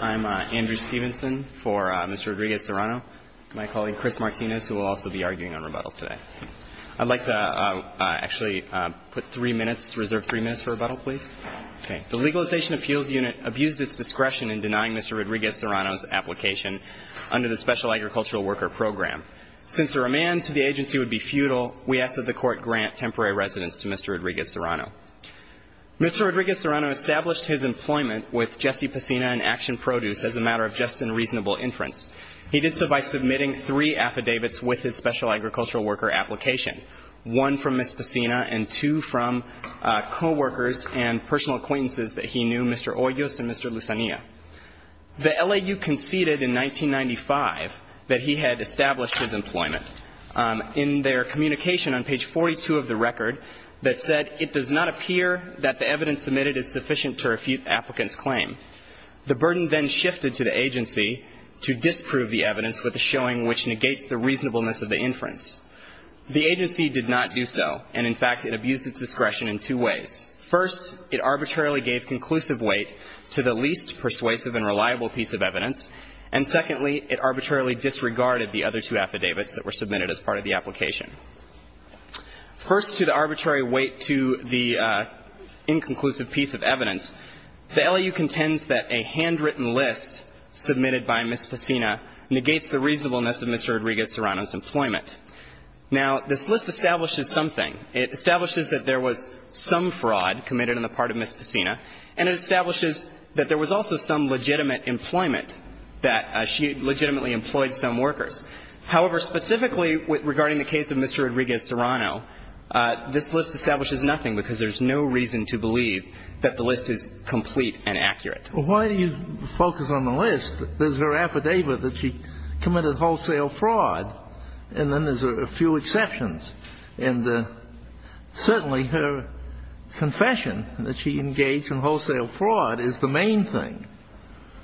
I'm Andrew Stevenson for Mr. Rodriguez-Serrano, my colleague Chris Martinez, who will also be arguing on rebuttal today. I'd like to actually put three minutes, reserve three minutes for rebuttal, please. The Legalization Appeals Unit abused its discretion in denying Mr. Rodriguez-Serrano's application under the Special Agricultural Worker Program. Since a remand to the agency would be futile, we ask that the Court grant temporary residence to Mr. Rodriguez-Serrano. Mr. Rodriguez-Serrano established his employment with Jesse Pacina and Action Produce as a matter of just and reasonable inference. He did so by submitting three affidavits with his Special Agricultural Worker application, one from Miss Pacina and two from coworkers and personal acquaintances that he knew, Mr. Hoyos and Mr. Lusania. The LAU conceded in 1995 that he had established his employment. In their communication on page 42 of the record that said, It does not appear that the evidence submitted is sufficient to refute the applicant's claim. The burden then shifted to the agency to disprove the evidence with a showing which negates the reasonableness of the inference. The agency did not do so. And in fact, it abused its discretion in two ways. First, it arbitrarily gave conclusive weight to the least persuasive and reliable piece of evidence. And secondly, it arbitrarily disregarded the other two affidavits that were submitted as part of the application. First, to the arbitrary weight to the inconclusive piece of evidence, the LAU contends that a handwritten list submitted by Miss Pacina negates the reasonableness of Mr. Rodriguez-Serrano's employment. Now, this list establishes something. It establishes that there was some fraud committed on the part of Miss Pacina. And it establishes that there was also some legitimate employment, that she legitimately employed some workers. However, specifically regarding the case of Mr. Rodriguez-Serrano, this list establishes nothing because there's no reason to believe that the list is complete and accurate. Well, why do you focus on the list? There's her affidavit that she committed wholesale fraud, and then there's a few exceptions. And certainly her confession that she engaged in wholesale fraud is the main thing.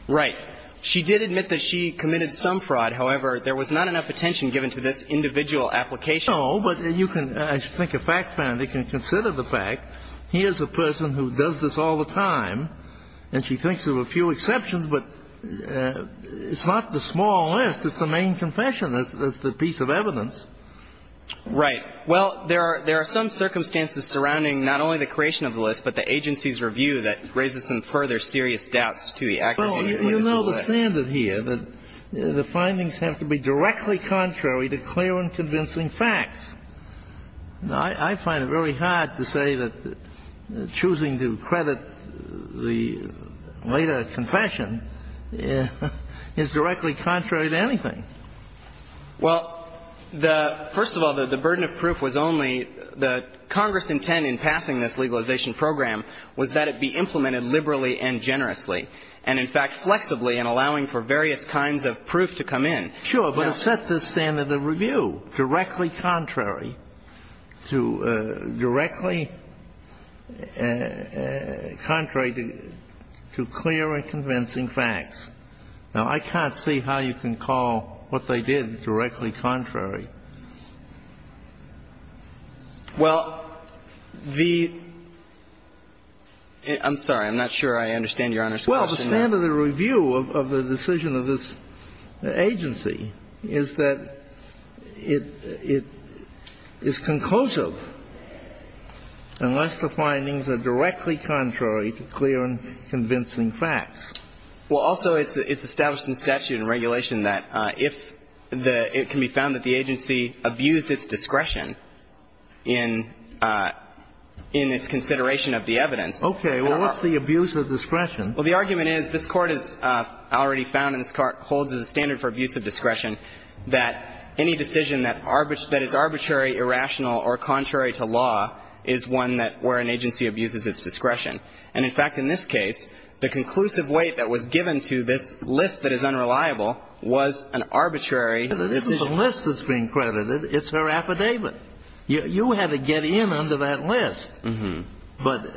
Right. She did admit that she committed some fraud. However, there was not enough attention given to this individual application. No, but you can – I think a fact-finder can consider the fact, here's a person who does this all the time, and she thinks there were a few exceptions. But it's not the small list. It's the main confession. It's the piece of evidence. Right. Well, there are some circumstances surrounding not only the creation of the list, but the agency's review that raises some further serious doubts to the accuracy of the list. Well, you know the standard here, that the findings have to be directly contrary to clear and convincing facts. I find it very hard to say that choosing to credit the later confession is directly contrary to anything. Well, the – first of all, the burden of proof was only – the Congress intent in passing this legalization program was that it be implemented liberally and generously, and in fact, flexibly, and allowing for various kinds of proof to come in. Sure, but it set the standard of review, directly contrary to – directly contrary to clear and convincing facts. Now, I can't see how you can call what they did directly contrary. Well, the – I'm sorry. I'm not sure I understand Your Honor's question. Well, the standard of review of the decision of this agency is that it is conclusive unless the findings are directly contrary to clear and convincing facts. Well, also, it's established in statute and regulation that if the – it can be found that the agency abused its discretion in – in its consideration of the evidence. Okay. Well, what's the abuse of discretion? Well, the argument is this Court has already found and holds as a standard for abuse of discretion that any decision that is arbitrary, irrational, or contrary to law is one that – where an agency abuses its discretion. And, in fact, in this case, the conclusive weight that was given to this list that is unreliable was an arbitrary decision. But this isn't the list that's being credited. It's her affidavit. You had to get in under that list. But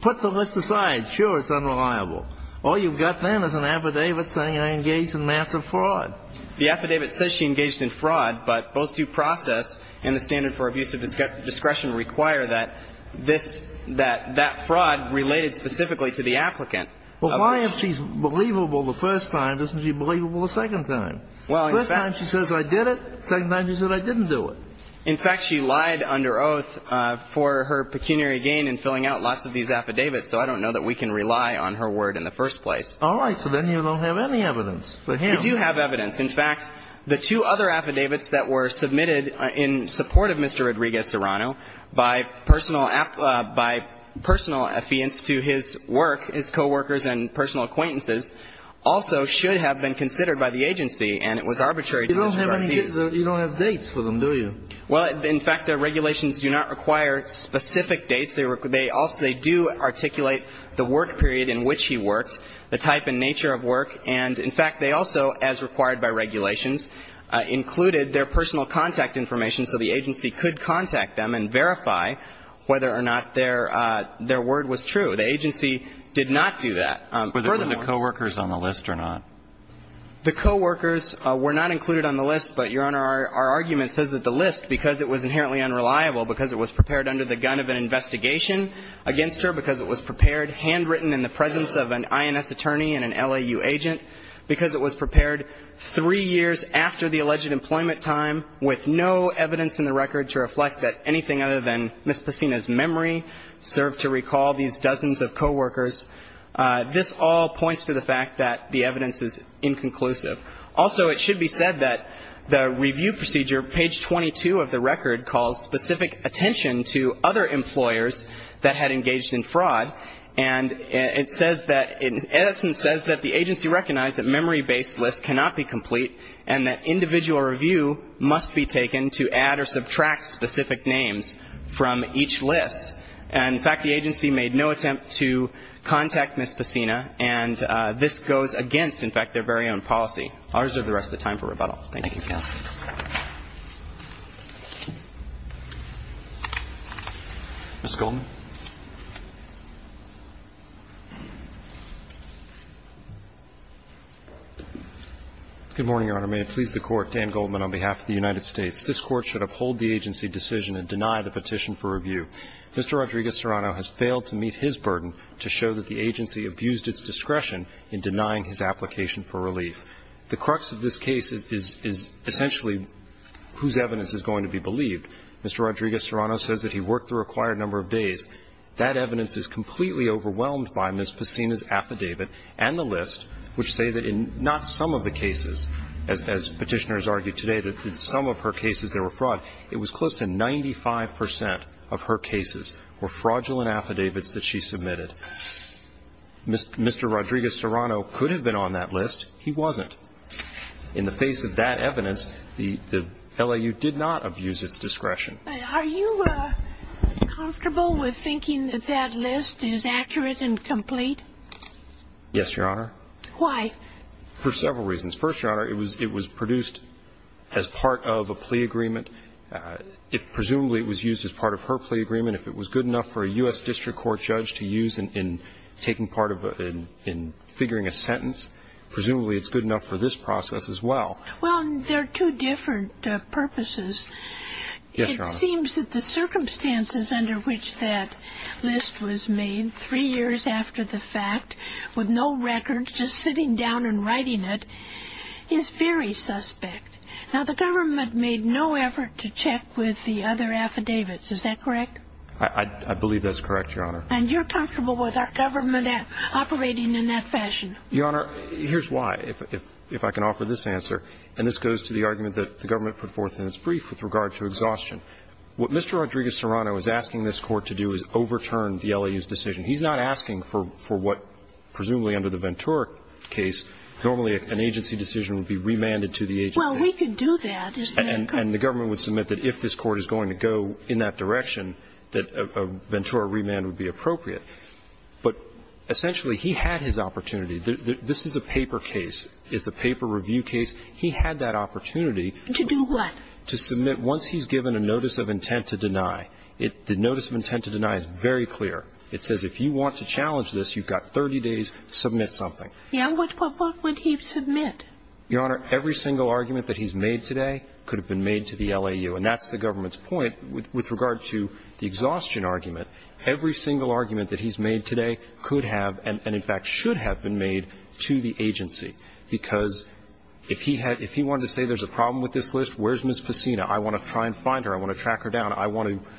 put the list aside. Sure, it's unreliable. All you've got then is an affidavit saying I engaged in massive fraud. The affidavit says she engaged in fraud, but both due process and the standard for abuse of discretion require that this – that that fraud related specifically to the applicant. Well, why if she's believable the first time doesn't she believable the second time? Well, in fact – First time she says I did it. Second time she said I didn't do it. In fact, she lied under oath for her pecuniary gain in filling out lots of these affidavits, so I don't know that we can rely on her word in the first place. All right. So then you don't have any evidence for him. We do have evidence. In fact, the two other affidavits that were submitted in support of Mr. Rodriguez- Serrano by personal – by personal affiliates to his work, his coworkers and personal acquaintances, also should have been considered by the agency, and it was arbitrary to disregard these. You don't have any – you don't have dates for them, do you? Well, in fact, the regulations do not require specific dates. They also – they do articulate the work period in which he worked, the type and nature of work, and in fact, they also, as required by regulations, included their personal contact information so the agency could contact them and verify whether or not their word was true. The agency did not do that. Furthermore – Were the coworkers on the list or not? The coworkers were not included on the list, but, Your Honor, our argument says that the list, because it was inherently unreliable, because it was prepared under the gun of an investigation against her, because it was prepared handwritten in the presence of an INS attorney and an LAU agent, because it was prepared three years after the alleged employment time with no evidence in the record to reflect that anything other than Ms. Pacina's memory served to recall these dozens of coworkers. This all points to the fact that the evidence is inconclusive. Also, it should be said that the review procedure, page 22 of the record, calls attention to other employers that had engaged in fraud, and it says that, in essence, says that the agency recognized that memory-based lists cannot be complete and that individual review must be taken to add or subtract specific names from each list. And, in fact, the agency made no attempt to contact Ms. Pacina, and this goes against, in fact, their very own policy. I'll reserve the rest of the time for rebuttal. Thank you. Thank you, counsel. Ms. Goldman. Good morning, Your Honor. May it please the Court, Dan Goldman on behalf of the United States. This Court should uphold the agency decision and deny the petition for review. Mr. Rodriguez-Serrano has failed to meet his burden to show that the agency abused its discretion in denying his application for relief. The crux of this case is essentially whose evidence is going to be believed. Mr. Rodriguez-Serrano says that he worked the required number of days. That evidence is completely overwhelmed by Ms. Pacina's affidavit and the list, which say that in not some of the cases, as Petitioner has argued today, that in some of her cases there were fraud. It was close to 95 percent of her cases were fraudulent affidavits that she submitted. Mr. Rodriguez-Serrano could have been on that list. He wasn't. In the face of that evidence, the LAU did not abuse its discretion. Are you comfortable with thinking that that list is accurate and complete? Yes, Your Honor. Why? For several reasons. First, Your Honor, it was produced as part of a plea agreement. Presumably it was used as part of her plea agreement. If it was good enough for a U.S. district court judge to use in taking part of a ‑‑ presumably it's good enough for this process as well. Well, there are two different purposes. Yes, Your Honor. It seems that the circumstances under which that list was made, three years after the fact, with no records, just sitting down and writing it, is very suspect. Now, the government made no effort to check with the other affidavits. Is that correct? I believe that's correct, Your Honor. And you're comfortable with our government operating in that fashion? Your Honor, here's why, if I can offer this answer. And this goes to the argument that the government put forth in its brief with regard to exhaustion. What Mr. Rodriguez-Serrano is asking this Court to do is overturn the LAU's decision. He's not asking for what presumably under the Ventura case normally an agency decision would be remanded to the agency. Well, we could do that, isn't it? And the government would submit that if this Court is going to go in that direction that a Ventura remand would be appropriate. But essentially, he had his opportunity. This is a paper case. It's a paper review case. He had that opportunity. To do what? To submit, once he's given a notice of intent to deny, the notice of intent to deny is very clear. It says if you want to challenge this, you've got 30 days to submit something. Yeah. What would he submit? Your Honor, every single argument that he's made today could have been made to the And that's the government's point with regard to the exhaustion argument. Every single argument that he's made today could have and, in fact, should have been made to the agency. Because if he wanted to say there's a problem with this list, where's Ms. Pacina? I want to try and find her. I want to track her down. I want to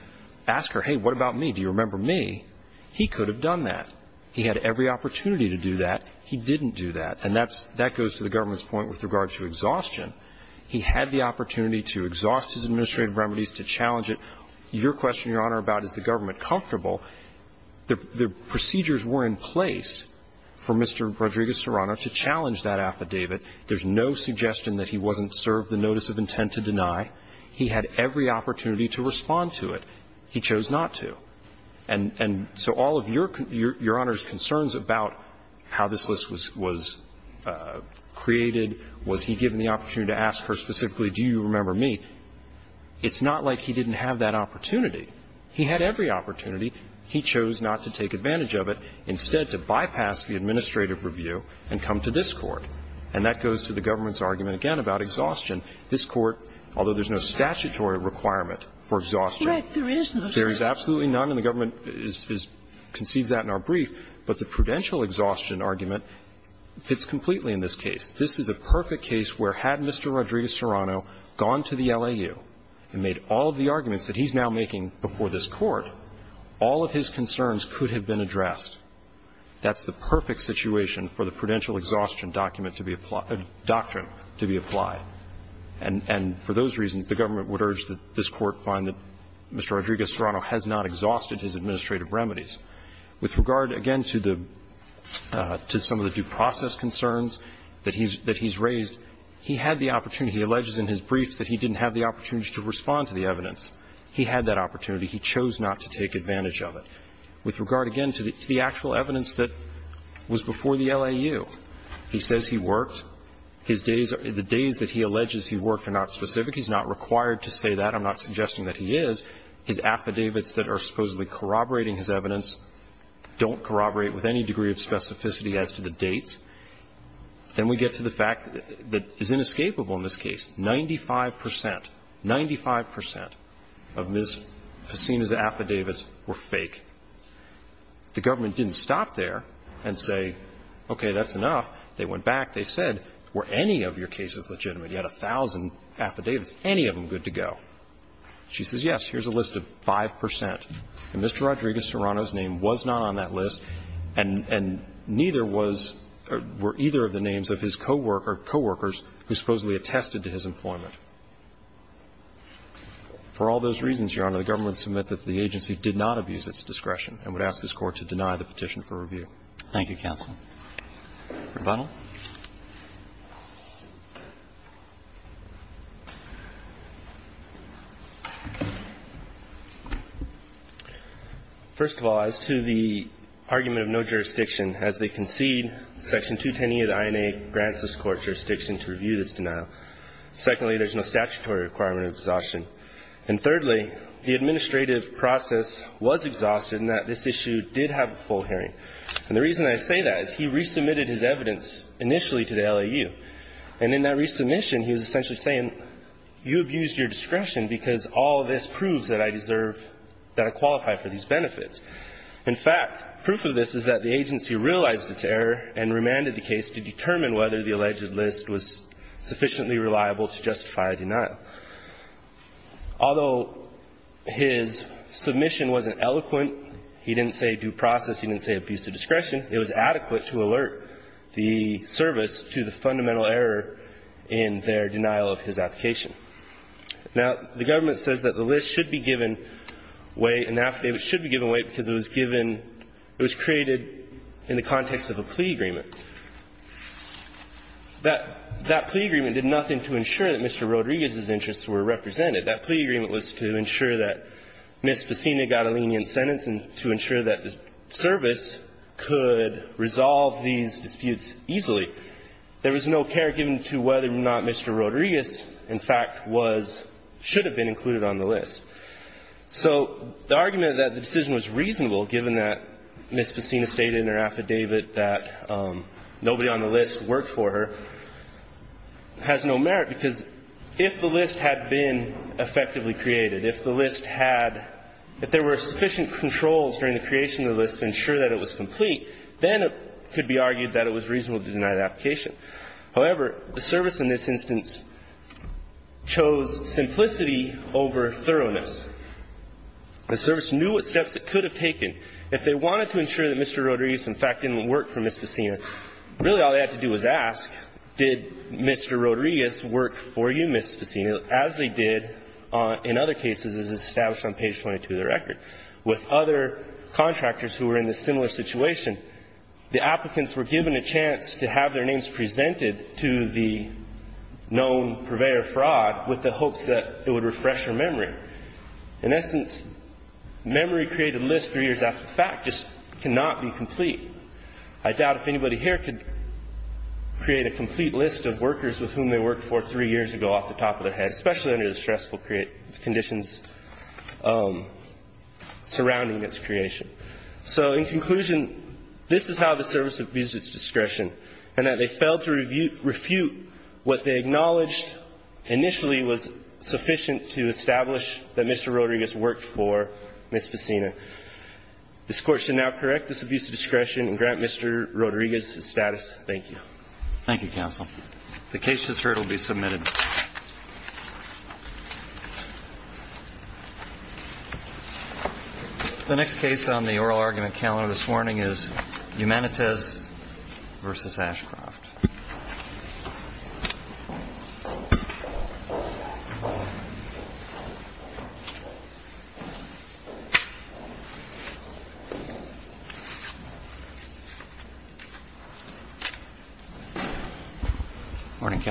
ask her, hey, what about me? Do you remember me? He could have done that. He had every opportunity to do that. He didn't do that. And that goes to the government's point with regard to exhaustion. He had the opportunity to exhaust his administrative remedies, to challenge Your question, Your Honor, about is the government comfortable, the procedures were in place for Mr. Rodriguez-Serrano to challenge that affidavit. There's no suggestion that he wasn't served the notice of intent to deny. He had every opportunity to respond to it. He chose not to. And so all of Your Honor's concerns about how this list was created, was he given the opportunity to ask her specifically, do you remember me, it's not like he didn't have that opportunity. He had every opportunity. He chose not to take advantage of it, instead to bypass the administrative review and come to this Court. And that goes to the government's argument again about exhaustion. This Court, although there's no statutory requirement for exhaustion. Right. There is none. There is absolutely none, and the government concedes that in our brief. But the prudential exhaustion argument fits completely in this case. This is a perfect case where had Mr. Rodriguez-Serrano gone to the LAU and made all of the arguments that he's now making before this Court, all of his concerns could have been addressed. That's the perfect situation for the prudential exhaustion document to be applied or doctrine to be applied. And for those reasons, the government would urge that this Court find that Mr. Rodriguez-Serrano has not exhausted his administrative remedies. With regard, again, to some of the due process concerns that he's raised, he had the opportunity. He alleges in his briefs that he didn't have the opportunity to respond to the evidence. He had that opportunity. He chose not to take advantage of it. With regard, again, to the actual evidence that was before the LAU, he says he worked. The days that he alleges he worked are not specific. He's not required to say that. I'm not suggesting that he is. His affidavits that are supposedly corroborating his evidence don't corroborate with any degree of specificity as to the dates. Then we get to the fact that is inescapable in this case. Ninety-five percent, 95 percent of Ms. Pacina's affidavits were fake. The government didn't stop there and say, okay, that's enough. They went back. They said, were any of your cases legitimate? You had a thousand affidavits. Any of them good to go? She says, yes, here's a list of 5 percent. And Mr. Rodriguez-Serrano's name was not on that list, and neither was or were either of the names of his coworkers who supposedly attested to his employment. For all those reasons, Your Honor, the government would submit that the agency did not abuse its discretion and would ask this Court to deny the petition for review. Thank you, counsel. Rebuttal. First of all, as to the argument of no jurisdiction, as they concede, Section 210 of the INA grants this Court jurisdiction to review this denial. Secondly, there's no statutory requirement of exhaustion. And thirdly, the administrative process was exhausted in that this issue did have a full hearing. And the reason I say that is he resubmitted his evidence initially to the LAU. And in that resubmission, he was essentially saying, you abused your discretion because all of this proves that I deserve, that I qualify for these benefits. In fact, proof of this is that the agency realized its error and remanded the case to determine whether the alleged list was sufficiently reliable to justify a denial. Although his submission wasn't eloquent, he didn't say due process, he didn't say you abused your discretion, it was adequate to alert the service to the fundamental error in their denial of his application. Now, the government says that the list should be given way and that it should be given way because it was given, it was created in the context of a plea agreement. That plea agreement did nothing to ensure that Mr. Rodriguez's interests were represented. That plea agreement was to ensure that Ms. Pacina got a lenient sentence and to ensure that the service could resolve these disputes easily. There was no care given to whether or not Mr. Rodriguez, in fact, was or should have been included on the list. So the argument that the decision was reasonable, given that Ms. Pacina stated in her affidavit that nobody on the list worked for her, has no merit, because if the list had been effectively created, if the list had, if there were sufficient controls during the creation of the list to ensure that it was complete, then it could be argued that it was reasonable to deny the application. However, the service in this instance chose simplicity over thoroughness. The service knew what steps it could have taken. If they wanted to ensure that Mr. Rodriguez, in fact, didn't work for Ms. Pacina, really all they had to do was ask, did Mr. Rodriguez work for you, Ms. Pacina, as they did in other cases as established on page 22 of the record. With other contractors who were in a similar situation, the applicants were given a chance to have their names presented to the known purveyor of fraud with the hopes that it would refresh their memory. In essence, memory created lists three years after the fact just cannot be complete. I doubt if anybody here could create a complete list of workers with whom they worked for three years ago off the top of their head, especially under the stressful conditions surrounding this creation. So in conclusion, this is how the service abused its discretion and that they failed to refute what they acknowledged initially was sufficient to establish that Mr. Rodriguez worked for Ms. Pacina. This court should now correct this abuse of discretion and grant Mr. Rodriguez his status. Thank you. Thank you, counsel. The case has heard will be submitted. The next case on the oral argument calendar this morning is Humanites v. Ashcroft. Morning, counsel.